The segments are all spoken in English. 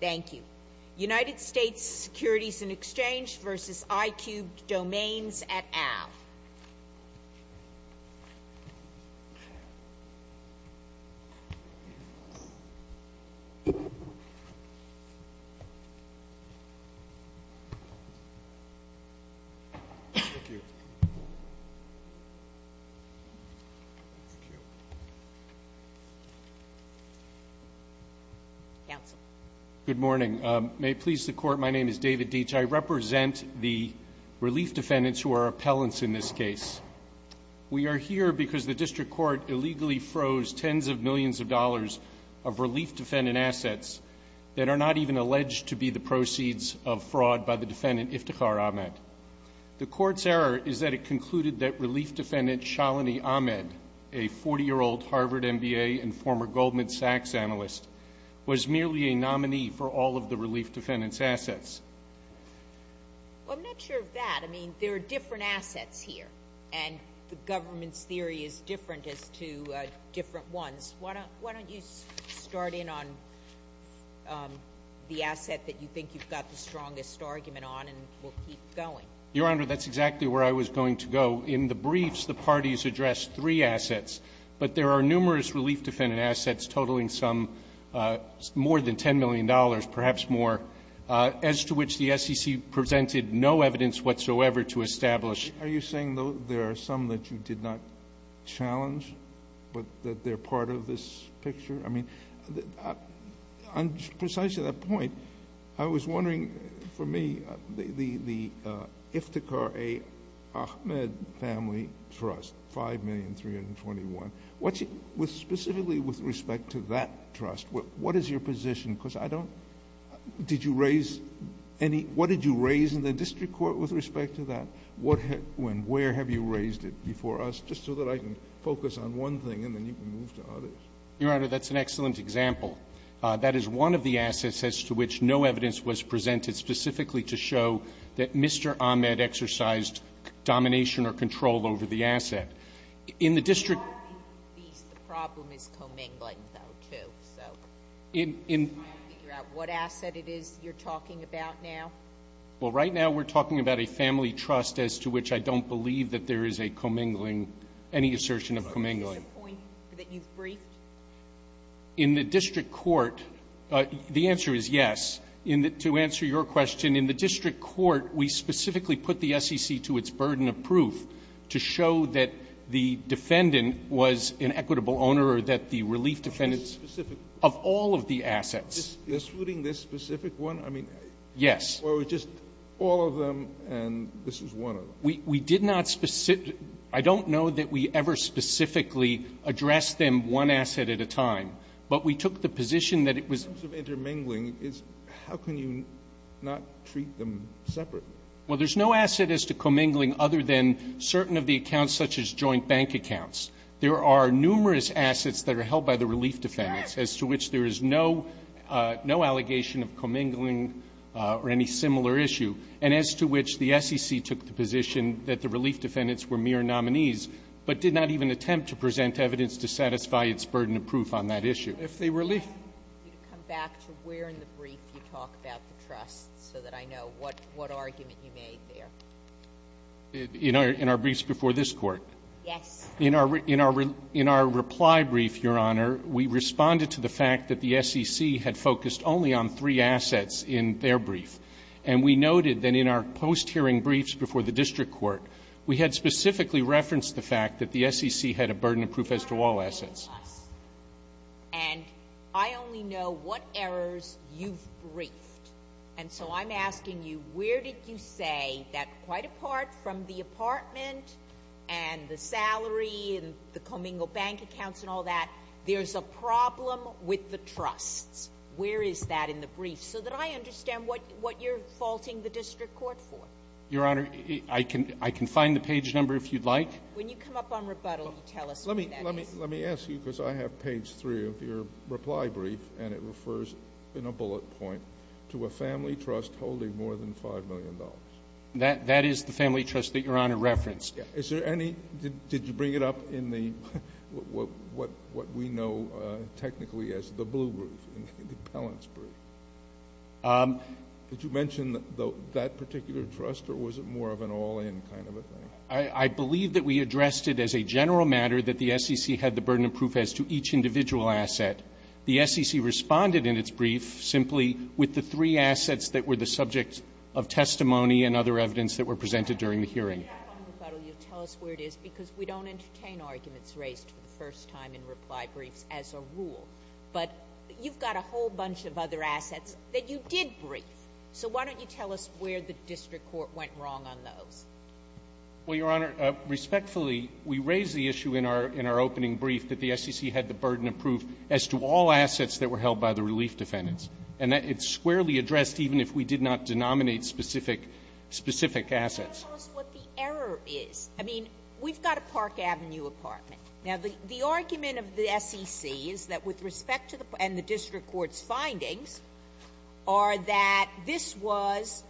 Thank you. United States Securities and Exchange versus iCube Domains at Ave. Good morning. May it please the Court, my name is David Deitch. I represent the relief defendants who are appellants in this case. We are here because the District Court illegally froze tens of millions of dollars of relief defendant assets that are not even alleged to be the proceeds of fraud by the defendant, Iftikhar Ahmed. The Court's error is that it concluded that relief defendant Shalini Ahmed, a 40-year-old Harvard MBA and former Goldman Sachs analyst, was merely a nominee for all of the relief defendant's assets. Well, I'm not sure of that. I mean, there are different assets here, and the government's theory is different as to different ones. Why don't you start in on the asset that you think you've got the strongest argument on and we'll keep going. Your Honor, that's exactly where I was going to go. In the briefs, the parties addressed three assets, but there are numerous relief defendant assets totaling some more than $10 million, perhaps more. As to which the SEC presented no evidence whatsoever to establish. Are you saying there are some that you did not challenge, but that they're part of this picture? I mean, on precisely that point, I was wondering, for me, the Iftikhar A. Ahmed Family Trust, $5,321,000. Specifically with respect to that trust, what is your position? Because I don't, did you raise any, what did you raise in the district court with respect to that? When, where have you raised it before us? Just so that I can focus on one thing and then you can move to others. Your Honor, that's an excellent example. That is one of the assets as to which no evidence was presented specifically to show that Mr. Ahmed exercised domination or control over the asset. In the district. The problem is commingling, though, too. So, I'm trying to figure out what asset it is you're talking about now. Well, right now we're talking about a family trust as to which I don't believe that there is a commingling, any assertion of commingling. Is this a point that you've briefed? In the district court, the answer is yes. In the, to answer your question, in the district court, we specifically put the SEC to its burden of proof to show that the defendant was an equitable owner or that the relief defendants. Of all of the assets. They're suiting this specific one? I mean. Yes. Or it was just all of them and this is one of them. We, we did not specifically, I don't know that we ever specifically addressed them one asset at a time, but we took the position that it was. In terms of intermingling, it's, how can you not treat them separately? Well, there's no asset as to commingling other than certain of the accounts, such as joint bank accounts. There are numerous assets that are held by the relief defendants as to which there is no, no allegation of commingling or any similar issue. And as to which the SEC took the position that the relief defendants were mere nominees, but did not even attempt to present evidence to satisfy its burden of proof on that issue. If they were relief. If you could come back to where in the brief you talk about the trust so that I know what, what argument you made there. In our, in our briefs before this Court. Yes. In our, in our, in our reply brief, Your Honor, we responded to the fact that the SEC had focused only on three assets in their brief. And we noted that in our post-hearing briefs before the district court, we had specifically referenced the fact that the SEC had a burden of proof as to all assets. And I only know what errors you've briefed. And so I'm asking you, where did you say that quite apart from the apartment and the salary and the commingle bank accounts and all that, there's a problem with the trusts? Where is that in the brief? So that I understand what, what you're faulting the district court for. Your Honor, I can, I can find the page number if you'd like. When you come up on rebuttal, you tell us what that is. Let me, let me, let me ask you, because I have page three of your reply brief, and it refers in a bullet point to a family trust holding more than $5 million. That, that is the family trust that Your Honor referenced. Is there any, did you bring it up in the, what, what, what we know technically as the blue group in the balance brief? Did you mention that particular trust or was it more of an all-in kind of a thing? I believe that we addressed it as a general matter that the SEC had the burden of proof as to each individual asset. The SEC responded in its brief simply with the three assets that were the subject of testimony and other evidence that were presented during the hearing. When you come up on rebuttal, you'll tell us where it is, because we don't entertain arguments raised for the first time in reply briefs as a rule. But you've got a whole bunch of other assets that you did brief. So why don't you tell us where the district court went wrong on those? Well, Your Honor, respectfully, we raised the issue in our, in our opening brief that the SEC had the burden of proof as to all assets that were held by the relief defendants. And that it's squarely addressed even if we did not denominate specific, specific assets. Tell us what the error is. I mean, we've got a Park Avenue apartment. Now, the argument of the SEC is that with respect to the park and the district court's findings are that this was,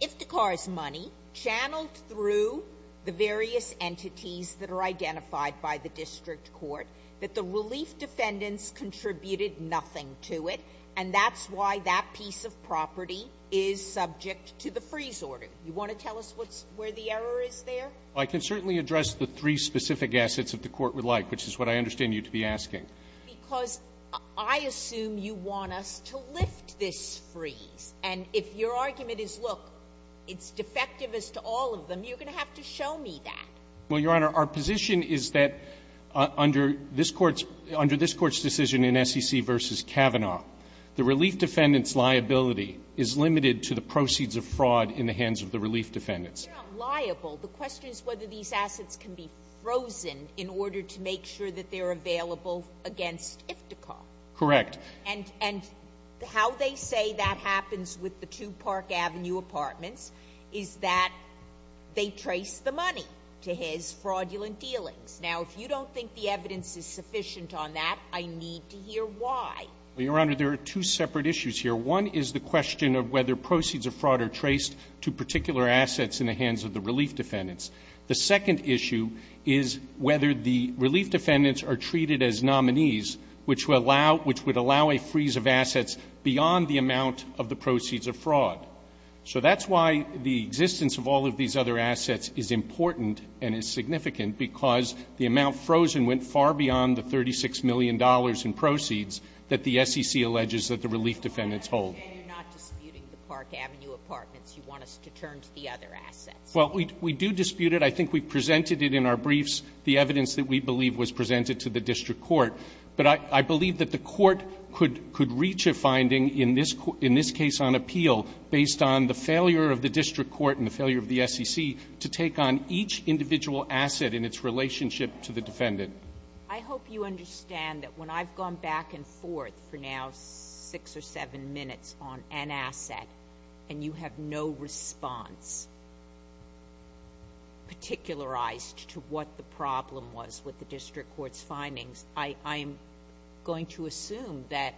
if the car is money, channeled through the various entities that are identified by the district court, that the relief defendants contributed nothing to it. And that's why that piece of property is subject to the freeze order. You want to tell us what's, where the error is there? I can certainly address the three specific assets that the Court would like, which is what I understand you to be asking. Because I assume you want us to lift this freeze. And if your argument is, look, it's defective as to all of them, you're going to have to show me that. Well, Your Honor, our position is that under this Court's, under this Court's decision in SEC v. Kavanaugh, the relief defendants' liability is limited to the proceeds of fraud in the hands of the relief defendants. They're not liable. The question is whether these assets can be frozen in order to make sure that they are available against iftikhar. Correct. And, and how they say that happens with the two Park Avenue apartments is that they trace the money to his fraudulent dealings. Now, if you don't think the evidence is sufficient on that, I need to hear why. Well, Your Honor, there are two separate issues here. One is the question of whether proceeds of fraud are traced to particular assets in the hands of the relief defendants. The second issue is whether the relief defendants are treated as nominees, which would allow, which would allow a freeze of assets beyond the amount of the proceeds of fraud. So that's why the existence of all of these other assets is important and is significant, because the amount frozen went far beyond the $36 million in proceeds that the SEC alleges that the relief defendants hold. And you're not disputing the Park Avenue apartments. You want us to turn to the other assets. Well, we, we do dispute it. I think we've presented it in our briefs, the evidence that we believe was presented to the district court. But I, I believe that the court could, could reach a finding in this, in this case on appeal based on the failure of the district court and the failure of the SEC to take on each individual asset and its relationship to the defendant. I hope you understand that when I've gone back and forth for now six or seven minutes on an asset, and you have no response particularized to what the problem was with the district court's findings, I, I'm going to assume that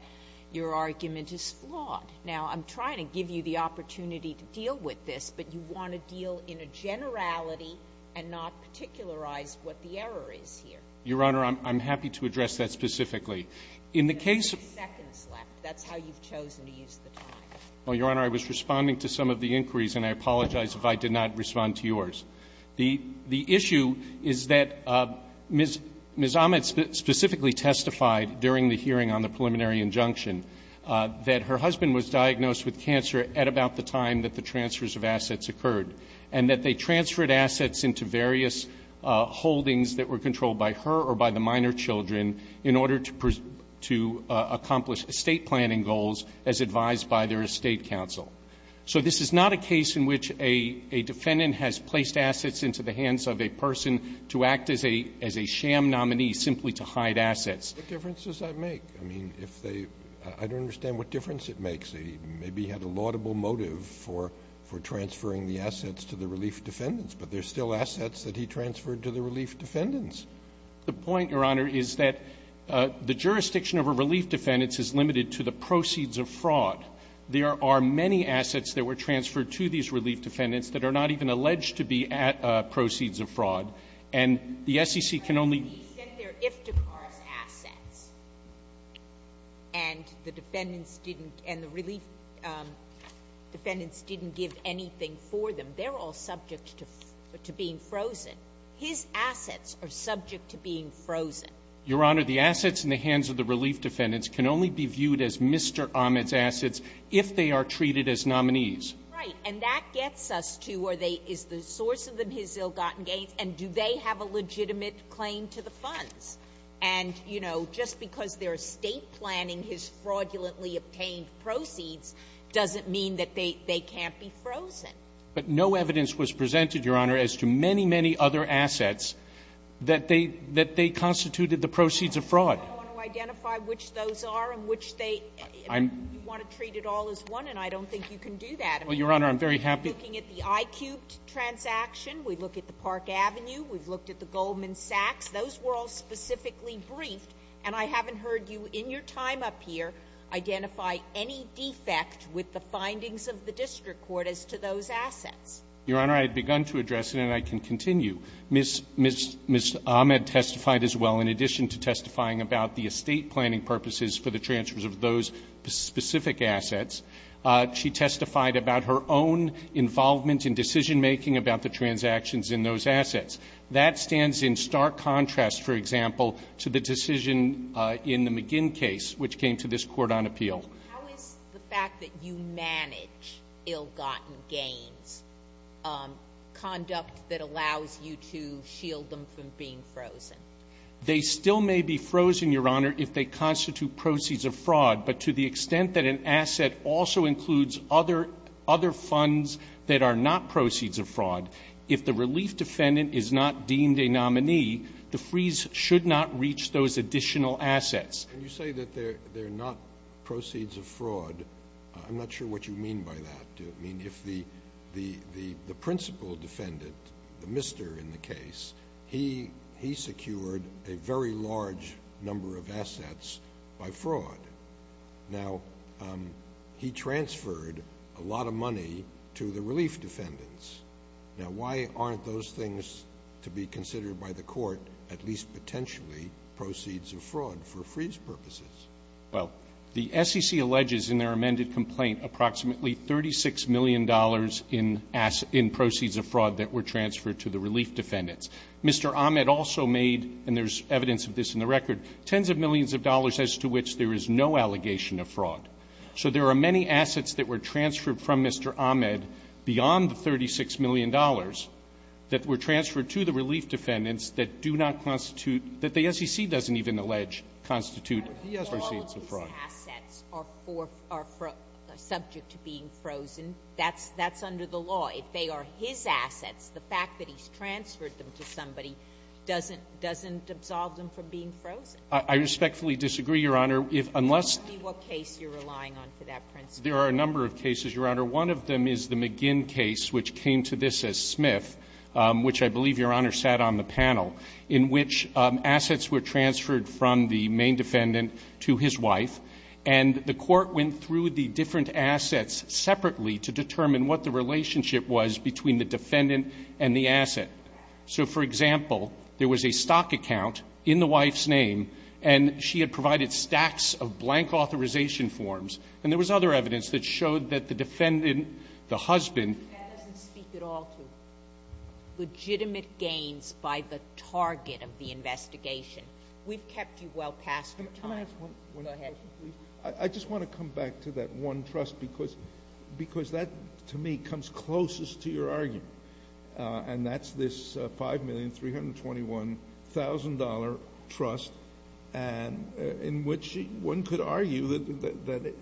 your argument is flawed. Now, I'm trying to give you the opportunity to deal with this, but you want to deal in a generality and not particularize what the error is here. Your Honor, I'm, I'm happy to address that specifically. In the case of the two seconds left, that's how you've chosen to use the time. Your Honor, I was responding to some of the inquiries, and I apologize if I did not respond to yours. The, the issue is that Ms. Ahmed specifically testified during the hearing on the basis that she was diagnosed with cancer at about the time that the transfers of assets occurred, and that they transferred assets into various holdings that were controlled by her or by the minor children in order to, to accomplish estate planning goals as advised by their estate counsel. So this is not a case in which a, a defendant has placed assets into the hands of a person to act as a, as a sham nominee simply to hide assets. What difference does that make? I mean, if they, I don't understand what difference it makes. Maybe he had a laudable motive for, for transferring the assets to the relief defendants, but there's still assets that he transferred to the relief defendants. The point, Your Honor, is that the jurisdiction of a relief defendant is limited to the proceeds of fraud. There are many assets that were transferred to these relief defendants that are not even alleged to be at proceeds of fraud, and the SEC can only The relief defendants didn't give anything for them. They're all subject to, to being frozen. His assets are subject to being frozen. Your Honor, the assets in the hands of the relief defendants can only be viewed as Mr. Ahmed's assets if they are treated as nominees. Right. And that gets us to, are they, is the source of the, his ill-gotten gains? And do they have a legitimate claim to the funds? And, you know, just because their estate planning has fraudulently obtained proceeds doesn't mean that they, they can't be frozen. But no evidence was presented, Your Honor, as to many, many other assets that they, that they constituted the proceeds of fraud. I want to identify which those are and which they, you want to treat it all as one, and I don't think you can do that. Well, Your Honor, I'm very happy. We're looking at the I-cubed transaction, we look at the Park Avenue, we've looked at the Goldman Sachs, those were all specifically briefed, and I haven't heard you in your time up here identify any defect with the findings of the district court as to those assets. Your Honor, I had begun to address it, and I can continue. Ms. Ahmed testified as well, in addition to testifying about the estate planning purposes for the transfers of those specific assets, she testified about her own, involvement in decision-making about the transactions in those assets. That stands in stark contrast, for example, to the decision in the McGinn case, which came to this Court on appeal. How is the fact that you manage ill-gotten gains conduct that allows you to shield them from being frozen? They still may be frozen, Your Honor, if they constitute proceeds of fraud. But to the extent that an asset also includes other funds that are not proceeds of fraud, if the relief defendant is not deemed a nominee, the freeze should not reach those additional assets. When you say that they're not proceeds of fraud, I'm not sure what you mean by that. I mean, if the principal defendant, the mister in the case, he secured a very large number of assets by fraud. Now, he transferred a lot of money to the relief defendants. Now, why aren't those things to be considered by the Court, at least potentially, proceeds of fraud for freeze purposes? Well, the SEC alleges in their amended complaint approximately $36 million in proceeds of fraud that were transferred to the relief defendants. Mr. Ahmed also made, and there's evidence of this in the record, tens of millions of dollars as to which there is no allegation of fraud. So there are many assets that were transferred from Mr. Ahmed beyond the $36 million that were transferred to the relief defendants that do not constitute, that the SEC doesn't even allege constitute proceeds of fraud. But if all of his assets are subject to being frozen, that's under the law. If they are his assets, the fact that he's transferred them to somebody doesn't absolve them from being frozen. I respectfully disagree, Your Honor. If unless — Tell me what case you're relying on for that principle. There are a number of cases, Your Honor. One of them is the McGinn case, which came to this as Smith, which I believe Your Honor sat on the panel, in which assets were transferred from the main defendant to his wife, and the Court went through the different assets separately to determine what the relationship was between the defendant and the asset. So, for example, there was a stock account in the wife's name, and she had provided stacks of blank authorization forms. And there was other evidence that showed that the defendant, the husband — That doesn't speak at all to legitimate gains by the target of the investigation. We've kept you well past your time. Go ahead. I just want to come back to that one trust, because that, to me, comes closest to your argument, and that's this $5,321,000 trust in which one could argue that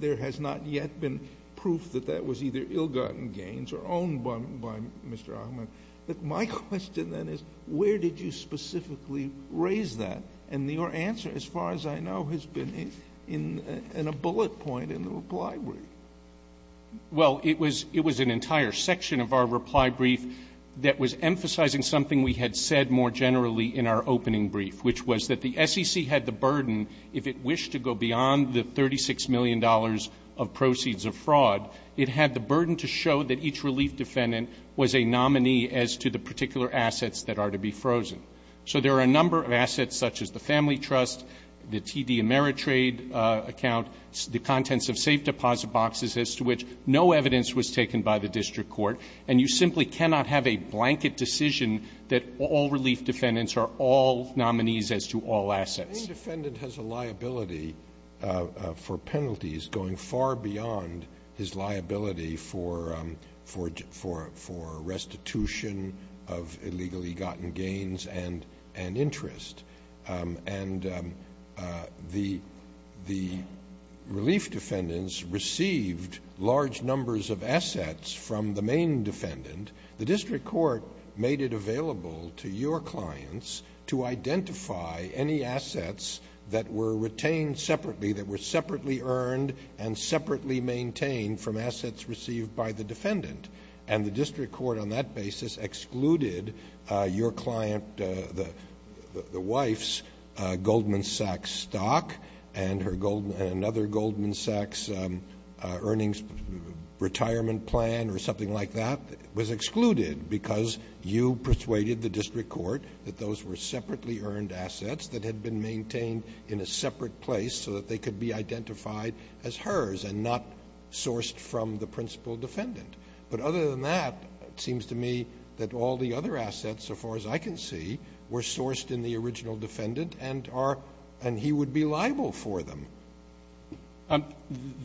there has not yet been proof that that was either ill-gotten gains or owned by Mr. Ahmed. But my question then is, where did you specifically raise that? And your answer, as far as I know, has been in a bullet point in the reply brief. Well, it was an entire section of our reply brief that was emphasizing something we had said more generally in our opening brief, which was that the SEC had the burden, if it wished to go beyond the $36 million of proceeds of fraud, it had the burden to show that each relief defendant was a nominee as to the particular assets that are to be frozen. So there are a number of assets such as the Family Trust, the TD Ameritrade account, the contents of safe deposit boxes as to which no evidence was taken by the district court, and you simply cannot have a blanket decision that all relief defendants are all nominees as to all assets. Any defendant has a liability for penalties going far beyond his liability for restitution of illegally gotten gains and interest. And the relief defendants received large numbers of assets from the main defendant. The district court made it available to your clients to identify any assets that were retained separately, that were separately earned and separately maintained from assets received by the defendant. And the district court on that basis excluded your client, the wife's Goldman Sachs stock and another Goldman Sachs earnings retirement plan or something like that, was excluded because you persuaded the district court that those were separately earned assets that had been maintained in a separate place so that they could be identified as hers and not sourced from the principal defendant. But other than that, it seems to me that all the other assets, so far as I can see, were sourced in the original defendant and are, and he would be liable for them.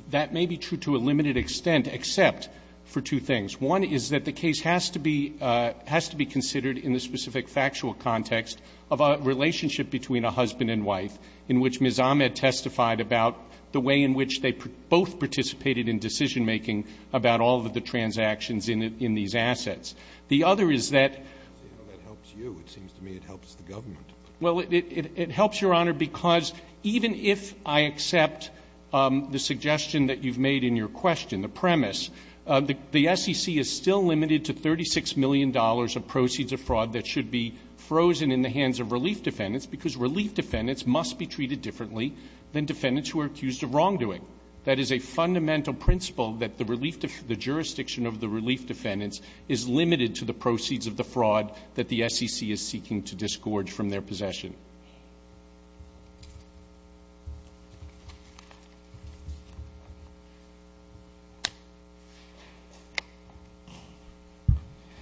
That may be true to a limited extent, except for two things. One is that the case has to be, has to be considered in the specific factual context of a relationship between a husband and wife in which Ms. Ahmed testified about the way in which they both participated in decision-making about all of the transactions in these assets. The other is that. That helps you. It seems to me it helps the government. Well, it helps your honor because even if I accept the suggestion that you've made in your question, the premise, the SEC is still limited to $36 million of proceeds of fraud that should be frozen in the hands of relief defendants because relief defendants must be treated differently than defendants who are accused of wrongdoing. That is a fundamental principle that the relief, the jurisdiction of the relief defendants is limited to the proceeds of the fraud that the SEC is seeking to disgorge from their possession.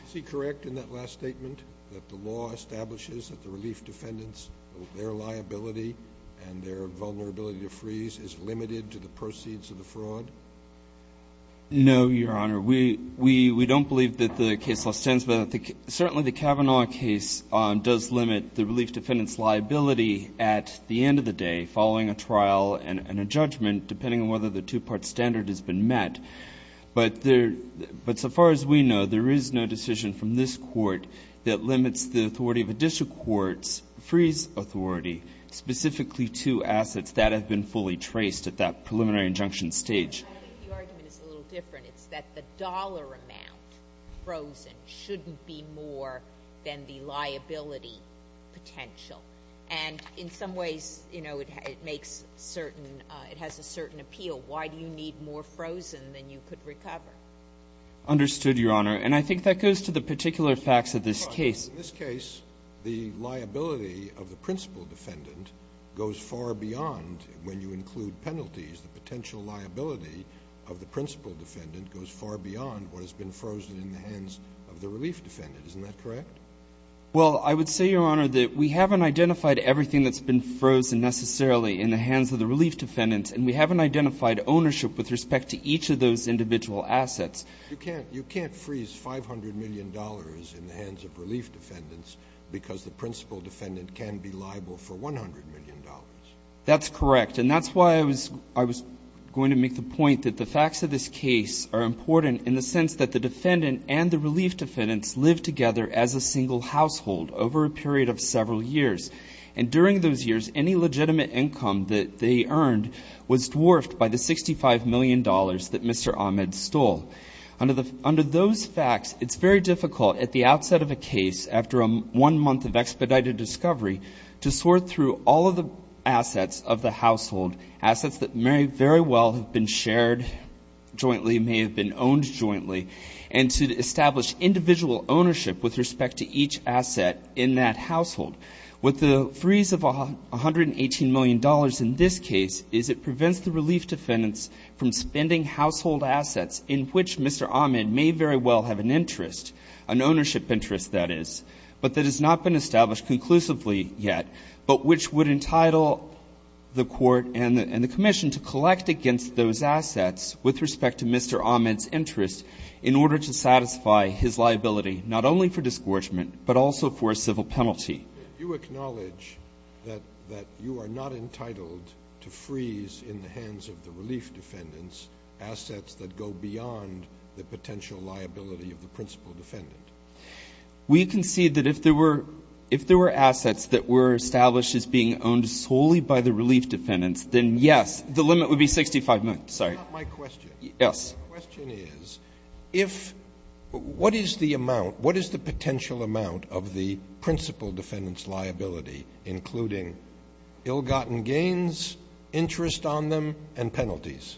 Is he correct in that last statement that the law establishes that the relief defendants, their liability and their vulnerability to freeze is limited to the proceeds of the fraud? No, your honor. We, we, we don't believe that the case law stands, but I think certainly the Kavanaugh case does limit the relief defendants liability at the end of the day, following a trial and a judgment, depending on whether the two part standard has been met. But there, but so far as we know, there is no decision from this court that limits the authority of a district court's freeze authority specifically to assets that have been fully traced at that preliminary injunction stage. I think the argument is a little different. It's that the dollar amount frozen shouldn't be more than the liability potential. And in some ways, you know, it makes certain, it has a certain appeal. Why do you need more frozen than you could recover? Understood, your honor. And I think that goes to the particular facts of this case. In this case, the liability of the principal defendant goes far beyond when you include penalties, the potential liability of the principal defendant goes far beyond what has been frozen in the hands of the relief defendant. Isn't that correct? Well, I would say, your honor, that we haven't identified everything that's been frozen necessarily in the hands of the relief defendants, and we haven't identified ownership with respect to each of those individual assets. You can't, you can't freeze $500 million in the hands of relief defendants because the principal defendant can be liable for $100 million. That's correct. And that's why I was, I was going to make the point that the facts of this case are important in the sense that the defendant and the relief defendants live together as a single household over a period of several years. And during those years, any legitimate income that they earned was dwarfed by the $65 million that Mr. Ahmed stole. Under the, under those facts, it's very difficult at the outset of a case, after a one month of expedited discovery, to sort through all of the assets of the household, assets that may very well have been shared jointly, may have been owned jointly, and to establish individual ownership with respect to each asset in that household. With the freeze of $118 million in this case is it prevents the relief defendants from spending household assets in which Mr. Ahmed may very well have an interest, an ownership interest that is, but that has not been established conclusively yet, but which would entitle the Court and the Commission to collect against those assets with respect to Mr. Ahmed's interest in order to satisfy his liability not only for disgorgement, but also for a civil penalty. You acknowledge that, that you are not entitled to freeze in the hands of the relief defendants assets that go beyond the potential liability of the principal defendant? We concede that if there were, if there were assets that were established as being owned solely by the relief defendants, then yes, the limit would be $65 million. Sorry. That's not my question. Yes. My question is, if, what is the amount, what is the potential amount of the principal defendant's liability, including ill-gotten gains, interest on them and penalties?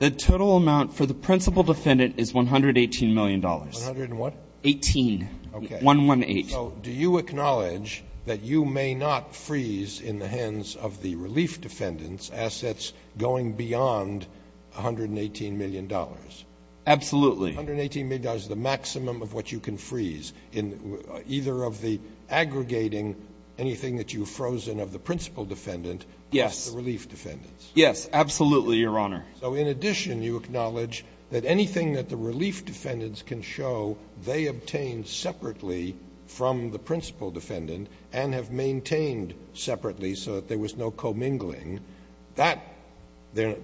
The total amount for the principal defendant is $118 million. One hundred and what? 18. Okay. 118. So do you acknowledge that you may not freeze in the hands of the relief defendants assets going beyond $118 million? Absolutely. $118 million is the maximum of what you can freeze in either of the aggregating anything that you've frozen of the principal defendant against the relief defendants? Yes. Absolutely, Your Honor. So in addition, you acknowledge that anything that the relief defendants can show they obtained separately from the principal defendant and have maintained separately so that there was no commingling, that there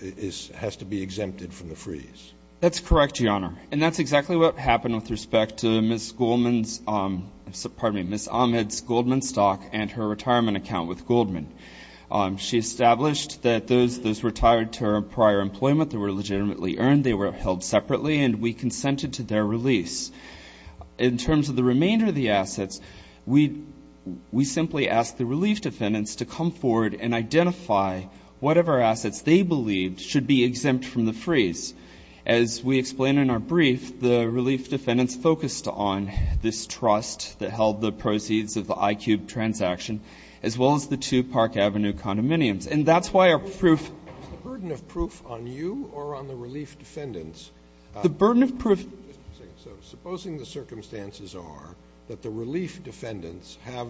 is, has to be exempted from the freeze? That's correct, Your Honor. And that's exactly what happened with respect to Ms. Goldman's, pardon me, Ms. Ahmed's Goldman stock and her retirement account with Goldman. She established that those retired to her prior employment that were legitimately earned, they were held separately and we consented to their release. In terms of the remainder of the assets, we simply asked the relief defendants to come forward and identify whatever assets they believed should be exempt from the And in a brief, the relief defendants focused on this trust that held the proceeds of the IQ transaction, as well as the two Park Avenue condominiums. And that's why our proof. Is the burden of proof on you or on the relief defendants? The burden of proof. So supposing the circumstances are that the relief defendants have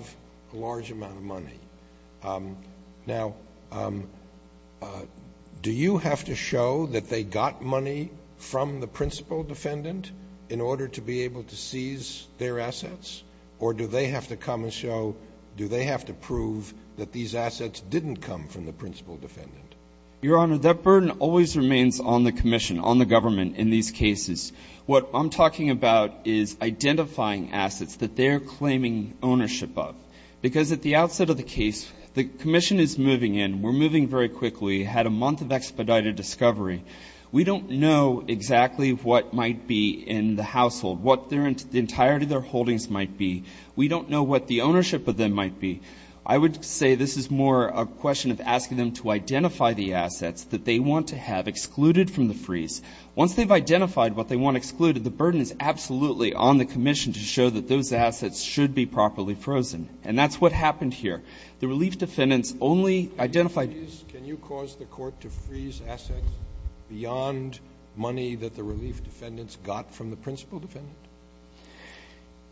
a large amount of money. Um, now, um, uh, do you have to show that they got money from the principal defendant in order to be able to seize their assets or do they have to come and show, do they have to prove that these assets didn't come from the principal defendant? Your Honor, that burden always remains on the commission, on the government. In these cases, what I'm talking about is identifying assets that they're claiming ownership of, because at the outset of the case, the commission is moving in. We're moving very quickly, had a month of expedited discovery. We don't know exactly what might be in the household, what their entirety, their holdings might be. We don't know what the ownership of them might be. I would say this is more a question of asking them to identify the assets that they want to have excluded from the freeze. Once they've identified what they want excluded, the burden is absolutely on the commission to identify the assets that they want to have excluded from the freeze. And that's what happened here. The relief defendants only identified. Can you cause the court to freeze assets beyond money that the relief defendants got from the principal defendant?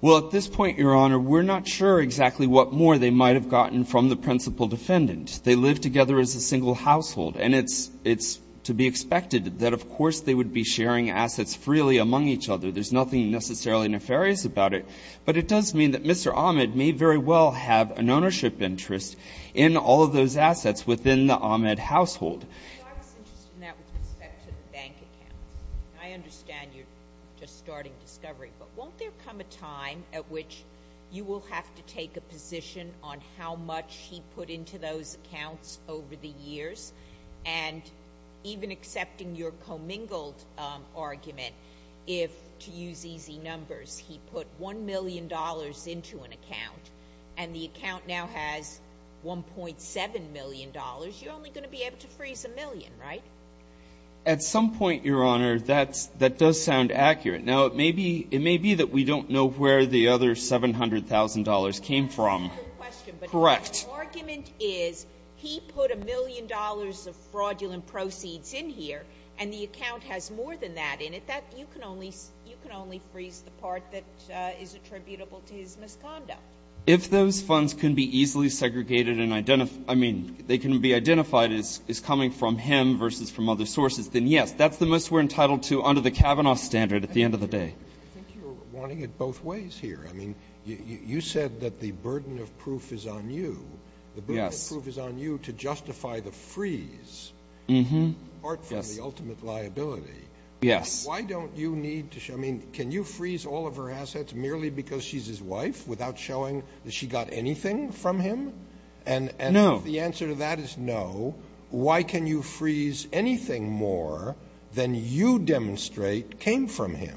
Well, at this point, Your Honor, we're not sure exactly what more they might have gotten from the principal defendant. They live together as a single household and it's, it's to be expected that of course they would be sharing assets freely among each other. There's nothing necessarily nefarious about it, but it does mean that Mr. Ahmed may very well have an ownership interest in all of those assets within the Ahmed household. I understand you just starting discovery, but won't there come a time at which you will have to take a position on how much he put into those accounts over the years and even accepting your commingled argument, if to use easy numbers, he put $1 million into an account and the account now has $1.7 million, you're only going to be able to freeze a million, right? At some point, Your Honor, that's, that does sound accurate. Now it may be, it may be that we don't know where the other $700,000 came from. Correct. The argument is he put $1 million of fraudulent proceeds in here and the account has more than that in it. That, you can only, you can only freeze the part that is attributable to his misconduct. If those funds can be easily segregated and identified, I mean, they can be identified as coming from him versus from other sources, then yes, that's the most we're entitled to under the Kavanaugh standard at the end of the day. I think you're wanting it both ways here. I mean, you said that the burden of proof is on you, the burden of proof is on you to justify the freeze, apart from the ultimate liability. Yes. Why don't you need to show, I mean, can you freeze all of her assets merely because she's his wife without showing that she got anything from him? And the answer to that is no. Why can you freeze anything more than you demonstrate came from him?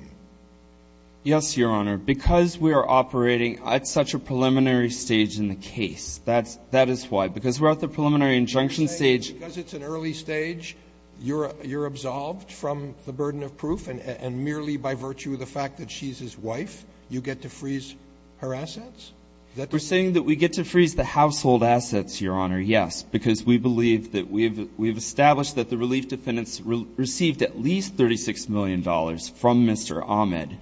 Yes, Your Honor. Because we are operating at such a preliminary stage in the case. That's, that is why. Because we're at the preliminary injunction stage. Because it's an early stage, you're, you're absolved from the burden of proof and merely by virtue of the fact that she's his wife, you get to freeze her assets? We're saying that we get to freeze the household assets, Your Honor, yes, because we believe that we've, we've established that the relief defendants received at least $36 million from Mr. Ahmed.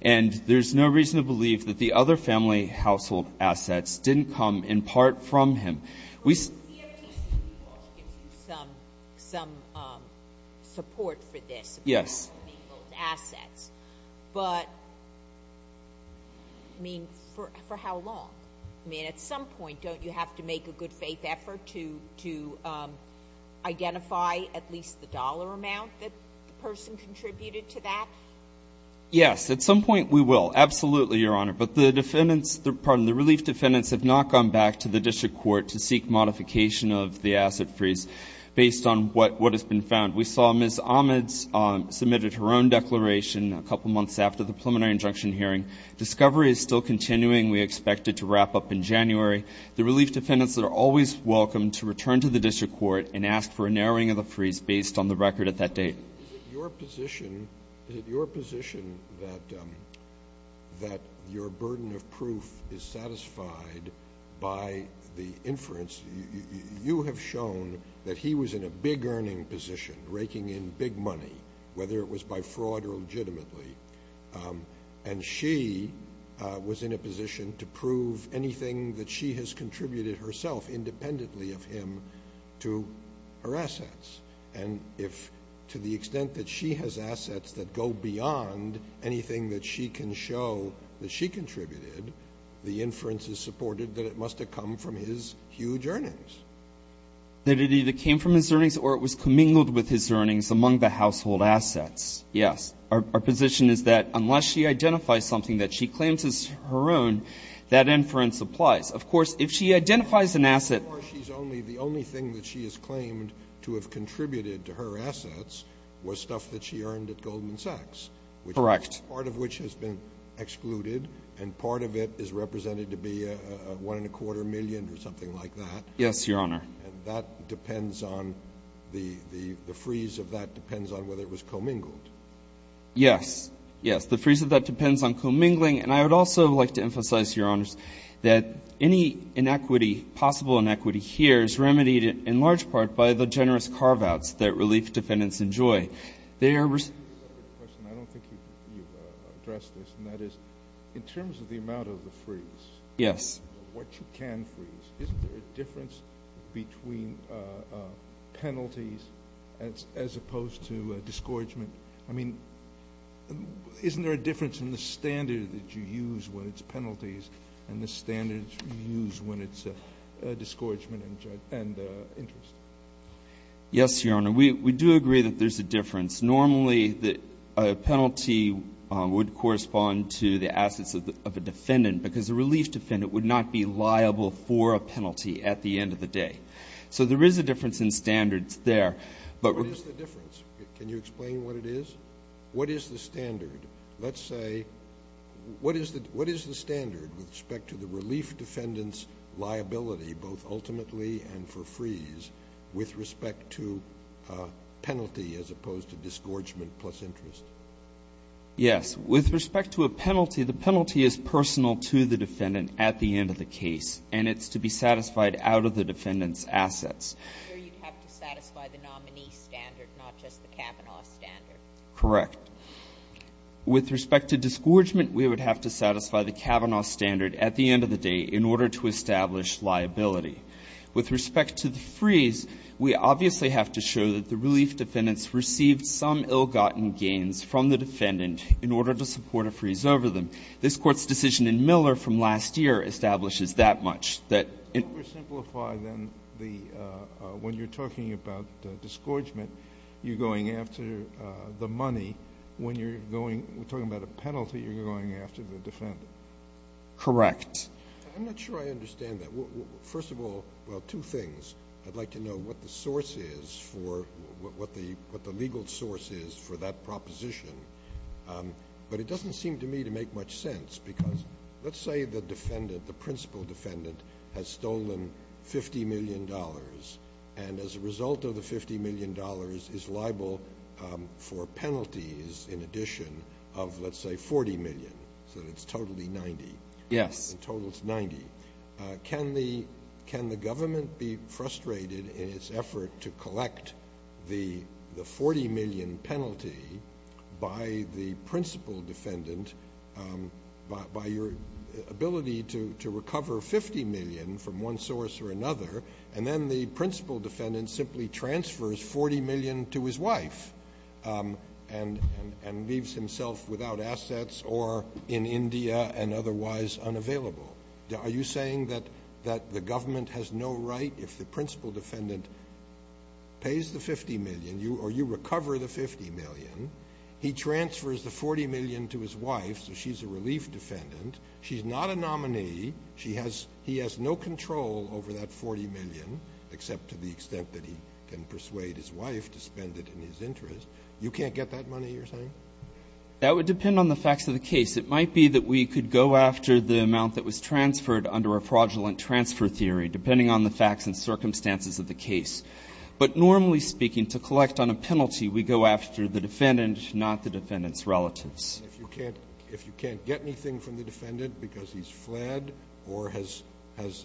And there's no reason to believe that the other family household assets didn't come in part from him. We see. Well, the CFTC, of course, gives you some, some support for this. Yes. About the household assets. But, I mean, for, for how long? I mean, at some point, don't you have to make a good faith effort to, to identify at least the dollar amount that the person contributed to that? Yes. At some point, we will. Absolutely, Your Honor. But the defendants, the, pardon, the relief defendants have not gone back to the district court to seek modification of the asset freeze based on what, what has been found. We saw Ms. Ahmed's submitted her own declaration a couple months after the preliminary injunction hearing. Discovery is still continuing. We expect it to wrap up in January. The relief defendants are always welcome to return to the district court and ask for a narrowing of the freeze based on the record at that date. Is it your position, is it your position that, that your burden of proof is satisfied by the inference you, you have shown that he was in a big earning position, raking in big money, whether it was by fraud or legitimately. And she was in a position to prove anything that she has contributed herself independently of him to her assets. And if, to the extent that she has assets that go beyond anything that she can show that she contributed, the inference is supported that it must have come from his huge earnings. That it either came from his earnings or it was commingled with his earnings among the household assets. Yes. Our, our position is that unless she identifies something that she claims is her own, that inference applies. Of course, if she identifies an asset. So far she's only, the only thing that she has claimed to have contributed to her assets was stuff that she earned at Goldman Sachs. Correct. Which, part of which has been excluded and part of it is represented to be a, a, a one and a quarter million or something like that. Yes, Your Honor. And that depends on the, the, the freeze of that depends on whether it was commingled. Yes, yes. The freeze of that depends on commingling and I would also like to emphasize, Your Honors, that any inequity, possible inequity here is remedied in large part by the generous carve-outs that relief defendants enjoy. They are receiving. I don't think you've addressed this and that is in terms of the amount of the freeze. Yes. What you can freeze. Isn't there a difference between penalties as, as opposed to discouragement? I mean, isn't there a difference in the standard that you use when it's penalties and the standards you use when it's a discouragement and, and interest? Yes, Your Honor. We, we do agree that there's a difference. Normally the penalty would correspond to the assets of the, of a defendant because a relief defendant would not be liable for a penalty at the end of the day. So there is a difference in standards there. But what is the difference? Can you explain what it is? What is the standard? Let's say, what is the, what is the standard with respect to the relief defendant's liability, both ultimately and for freeze, with respect to penalty as opposed to disgorgement plus interest? Yes. With respect to a penalty, the penalty is personal to the defendant at the end of the case and it's to be satisfied out of the defendant's assets. I'm sure you'd have to satisfy the nominee standard, not just the Kavanaugh standard. Correct. With respect to disgorgement, we would have to satisfy the Kavanaugh standard at the end of the day in order to establish liability. With respect to the freeze, we obviously have to show that the relief defendants received some ill-gotten gains from the defendant in order to support a freeze over them. This Court's decision in Miller from last year establishes that much, that in order to simplify then the, when you're talking about disgorgement, you're going after the money. When you're going, we're talking about a penalty, you're going after the defendant. Correct. I'm not sure I understand that. First of all, well, two things. I'd like to know what the source is for, what the legal source is for that proposition. But it doesn't seem to me to make much sense because let's say the defendant, the principal defendant has stolen $50 million and as a result of the $50 million is liable for penalties in addition of let's say $40 million. So it's totally $90. Yes. In total it's $90. Can the government be frustrated in its effort to collect the $40 million penalty by the principal defendant, by your ability to recover $50 million from one source or another and then the principal defendant simply transfers $40 million to his wife and leaves himself without assets or in India and otherwise unavailable? Are you saying that the government has no right if the principal defendant pays the $50 million or you recover the $50 million, he transfers the $40 million to his wife, so she's a relief defendant, she's not a nominee, he has no control over that $40 million except to the extent that he can persuade his wife to spend it in his interest. You can't get that money, you're saying? That would depend on the facts of the case. It might be that we could go after the amount that was transferred under a fraudulent transfer theory depending on the facts and circumstances of the case. But normally speaking, to collect on a penalty, we go after the defendant, not the defendant's relatives. If you can't get anything from the defendant because he's fled or has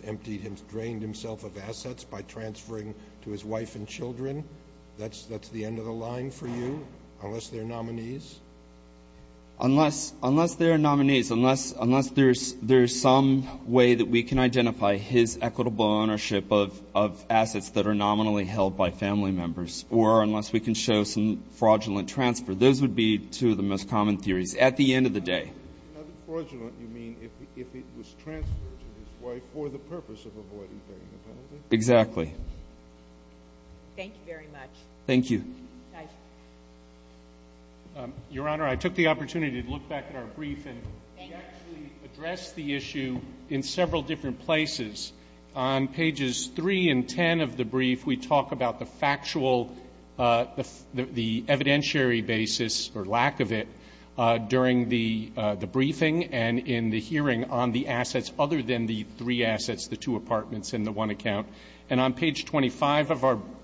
emptied him, drained himself of assets by transferring to his wife and children, that's the end of the line for you unless they're nominees? Unless they're nominees, unless there's some way that we can identify his equitable ownership of assets that are nominally held by family members or unless we can show some fraudulent transfer. Those would be two of the most common theories at the end of the day. By fraudulent, you mean if it was transferred to his wife for the purpose of avoiding paying the penalty? Exactly. Thank you very much. Thank you. Your Honor, I took the opportunity to look back at our brief and we actually addressed the issue in several different places. On pages 3 and 10 of the brief, we talk about the factual, the evidentiary basis or lack of it during the briefing and in the hearing on the assets other than the three assets, the two apartments and the one account. And on page 25 of our brief.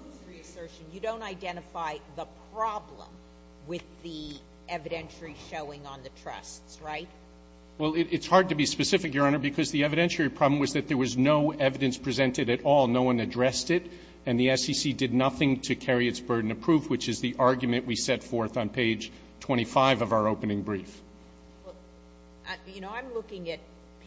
You don't identify the problem with the evidentiary showing on the trusts, right? Well, it's hard to be specific, Your Honor, because the evidentiary problem was that there was no evidence presented at all. No one addressed it and the SEC did nothing to carry its burden of proof, which is the argument we set forth on page 25 of our opening brief. Well, you know, I'm looking at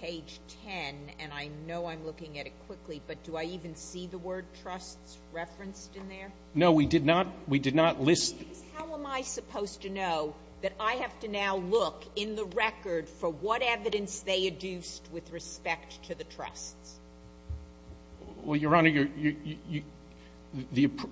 page 10 and I know I'm looking at it quickly, but do I even see the word trusts referenced in there? No, we did not. We did not list. How am I supposed to know that I have to now look in the record for what evidence they adduced with respect to the trusts? Well, Your Honor,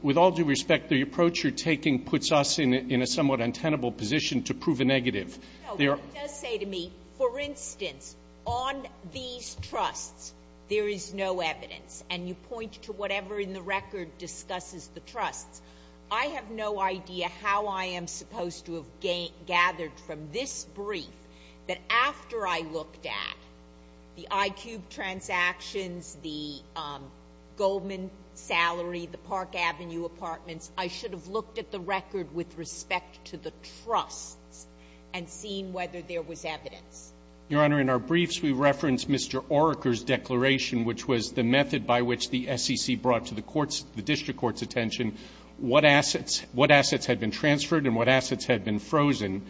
with all due respect, the approach you're taking puts us in a somewhat untenable position to prove a negative. No, it does say to me, for instance, on these trusts, there is no evidence and you point to whatever in the record discusses the trusts. I have no idea how I am supposed to have gathered from this brief that after I looked at the iCube transactions, the Goldman salary, the Park Avenue apartments, I should have looked at the record with respect to the trusts and seen whether there was evidence. Your Honor, in our briefs, we referenced Mr. Oerker's declaration, which was the method by which the SEC brought to the court's, the district court's attention, what assets had been transferred and what assets had been frozen.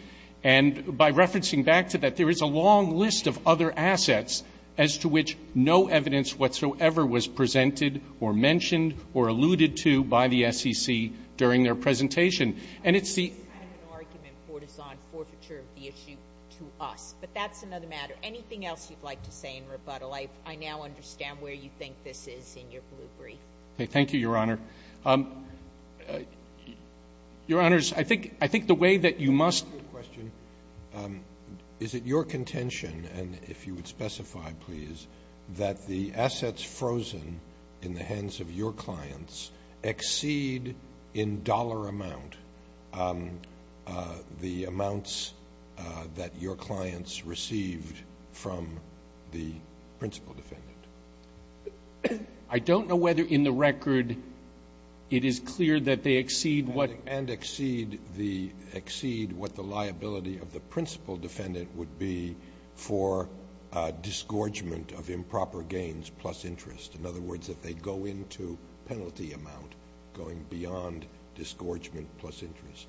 And by referencing back to that, there is a long list of other assets as to which no evidence whatsoever was presented or mentioned or alluded to by the SEC during their presentation. And it's the... I have an argument for this on forfeiture of the issue to us, but that's another matter. Anything else you'd like to say in rebuttal? I now understand where you think this is in your blue brief. Thank you, Your Honor. Your Honors, I think the way that you must... I have a question. Is it your contention, and if you would specify, please, that the assets frozen in the hands of your clients exceed in dollar amount the amounts that your clients received from the principal defendant? I don't know whether in the record it is clear that they exceed what... And exceed what the liability of the principal defendant would be for disgorgement of improper gains plus interest. In other words, if they go into penalty amount going beyond disgorgement plus interest.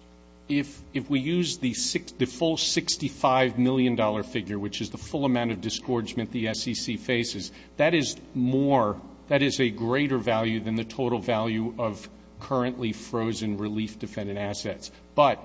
If we use the full $65 million figure, which is the full amount of disgorgement the SEC faces, that is more, that is a greater value than the total value of currently frozen relief defendant assets. But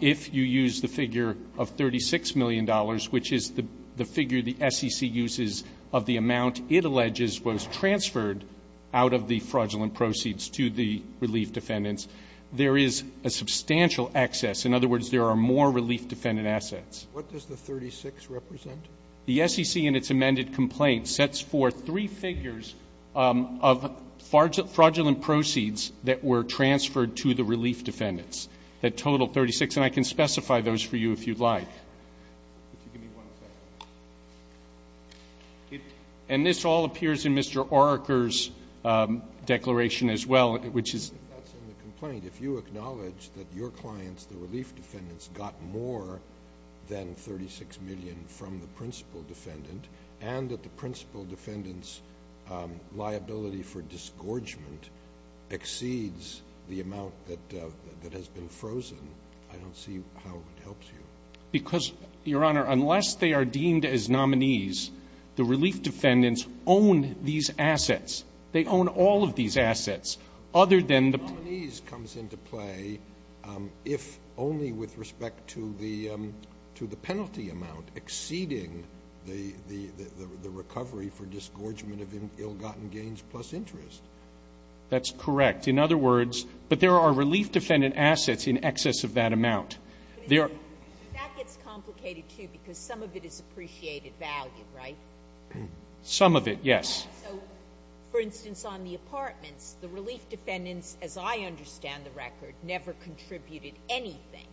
if you use the figure of $36 million, which is the figure the SEC uses of the amount it alleges was transferred out of the fraudulent proceeds to the relief defendants, there is a substantial excess. In other words, there are more relief defendant assets. What does the 36 represent? The SEC in its amended complaint sets forth three figures of fraudulent proceeds that were transferred to the relief defendants. That total 36, and I can specify those for you if you'd like. Could you give me one second? And this all appears in Mr. Oerker's declaration as well, which is... That's in the complaint. If you acknowledge that your clients, the relief defendants, got more than $36 million from the principal defendant and that the principal defendant's liability for disgorgement exceeds the amount that has been frozen, I don't see how it helps you. Because, Your Honor, unless they are deemed as nominees, the relief defendants own these assets. They own all of these assets, other than the... Nominees comes into play if only with respect to the penalty amount exceeding the recovery for disgorgement of ill-gotten gains plus interest. That's correct. In other words, but there are relief defendant assets in excess of that amount. That gets complicated, too, because some of it is appreciated value, right? Some of it, yes. So, for instance, on the apartments, the relief defendants, as I understand the record, never contributed anything,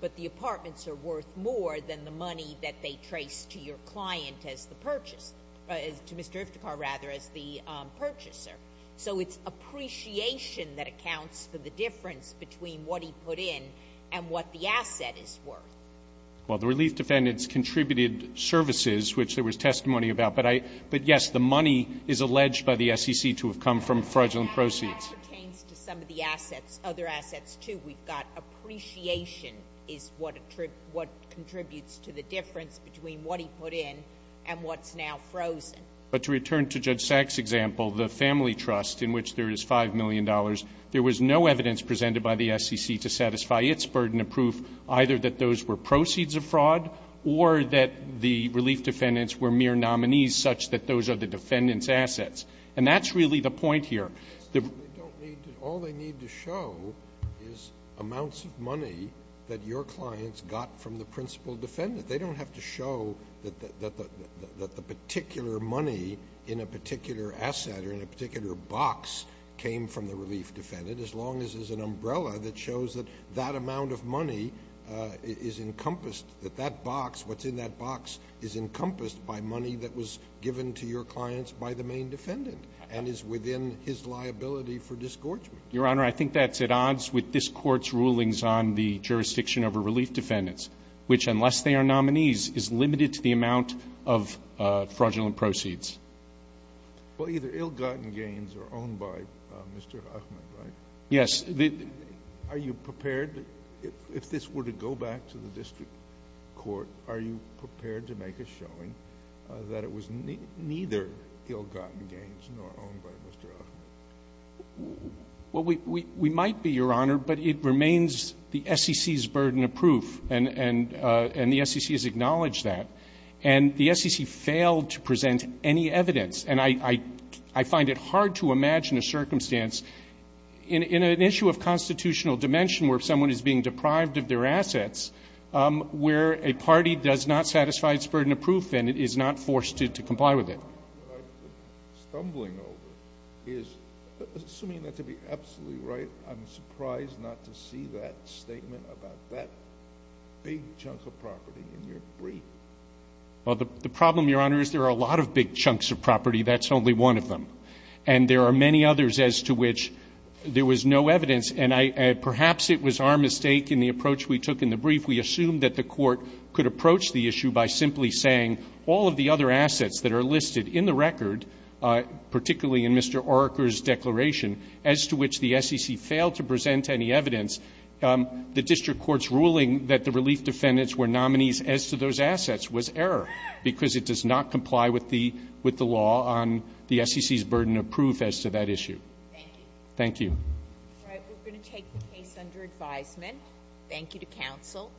but the apartments are worth more than the money that they trace to your client as the purchase, to Mr. Iftikhar, rather, as the purchaser. So it's appreciation that accounts for the difference between what he put in and what the asset is worth. Well, the relief defendants contributed services, which there was testimony about, but yes, the money is alleged by the SEC to have come from fraudulent proceeds. That pertains to some of the assets, other assets, too. We've got appreciation is what contributes to the difference between what he put in and what's now frozen. But to return to Judge Sack's example, the family trust, in which there is $5 million, there was no evidence presented by the SEC to satisfy its burden of proof, either that those were proceeds of fraud or that the relief defendants were mere nominees, such that those are the defendants' assets. And that's really the point here. All they need to show is amounts of money that your clients got from the principal defendant. They don't have to show that the particular money in a particular asset or in a particular box came from the relief defendant, as long as there's an umbrella that shows that that amount of money is encompassed, that that box, what's in that box, is encompassed by money that was given to your clients by the main defendant and is within his liability for disgorgement. Your Honor, I think that's at odds with this Court's rulings on the jurisdiction over relief defendants, which, unless they are nominees, is limited to the amount of fraudulent proceeds. Well, either ill-gotten gains are owned by Mr. Huffman, right? Yes. Are you prepared, if this were to go back to the district court, are you prepared to make a showing that it was neither ill-gotten gains nor owned by Mr. Huffman? Well, we might be, Your Honor, but it remains the SEC's burden of proof. And the SEC has acknowledged that. And the SEC failed to present any evidence. And I find it hard to imagine a circumstance in an issue of constitutional dimension where someone is being deprived of their assets where a party does not satisfy its burden of proof and is not forced to comply with it. What I'm stumbling over is, assuming that to be absolutely right, I'm surprised not to see that statement about that big chunk of property in your brief. Well, the problem, Your Honor, is there are a lot of big chunks of property. That's only one of them. And there are many others as to which there was no evidence. And perhaps it was our mistake in the approach we took in the brief. We assumed that the Court could approach the issue by simply saying, all of the other assets that are listed in the record, particularly in Mr. Oerker's declaration, as to which the SEC failed to present any evidence, the district court's ruling that the relief defendants were nominees as to those assets was error because it does not comply with the law on the SEC's burden of proof as to that issue. Thank you. Thank you. All right. We're going to take the case under advisement. Thank you to counsel.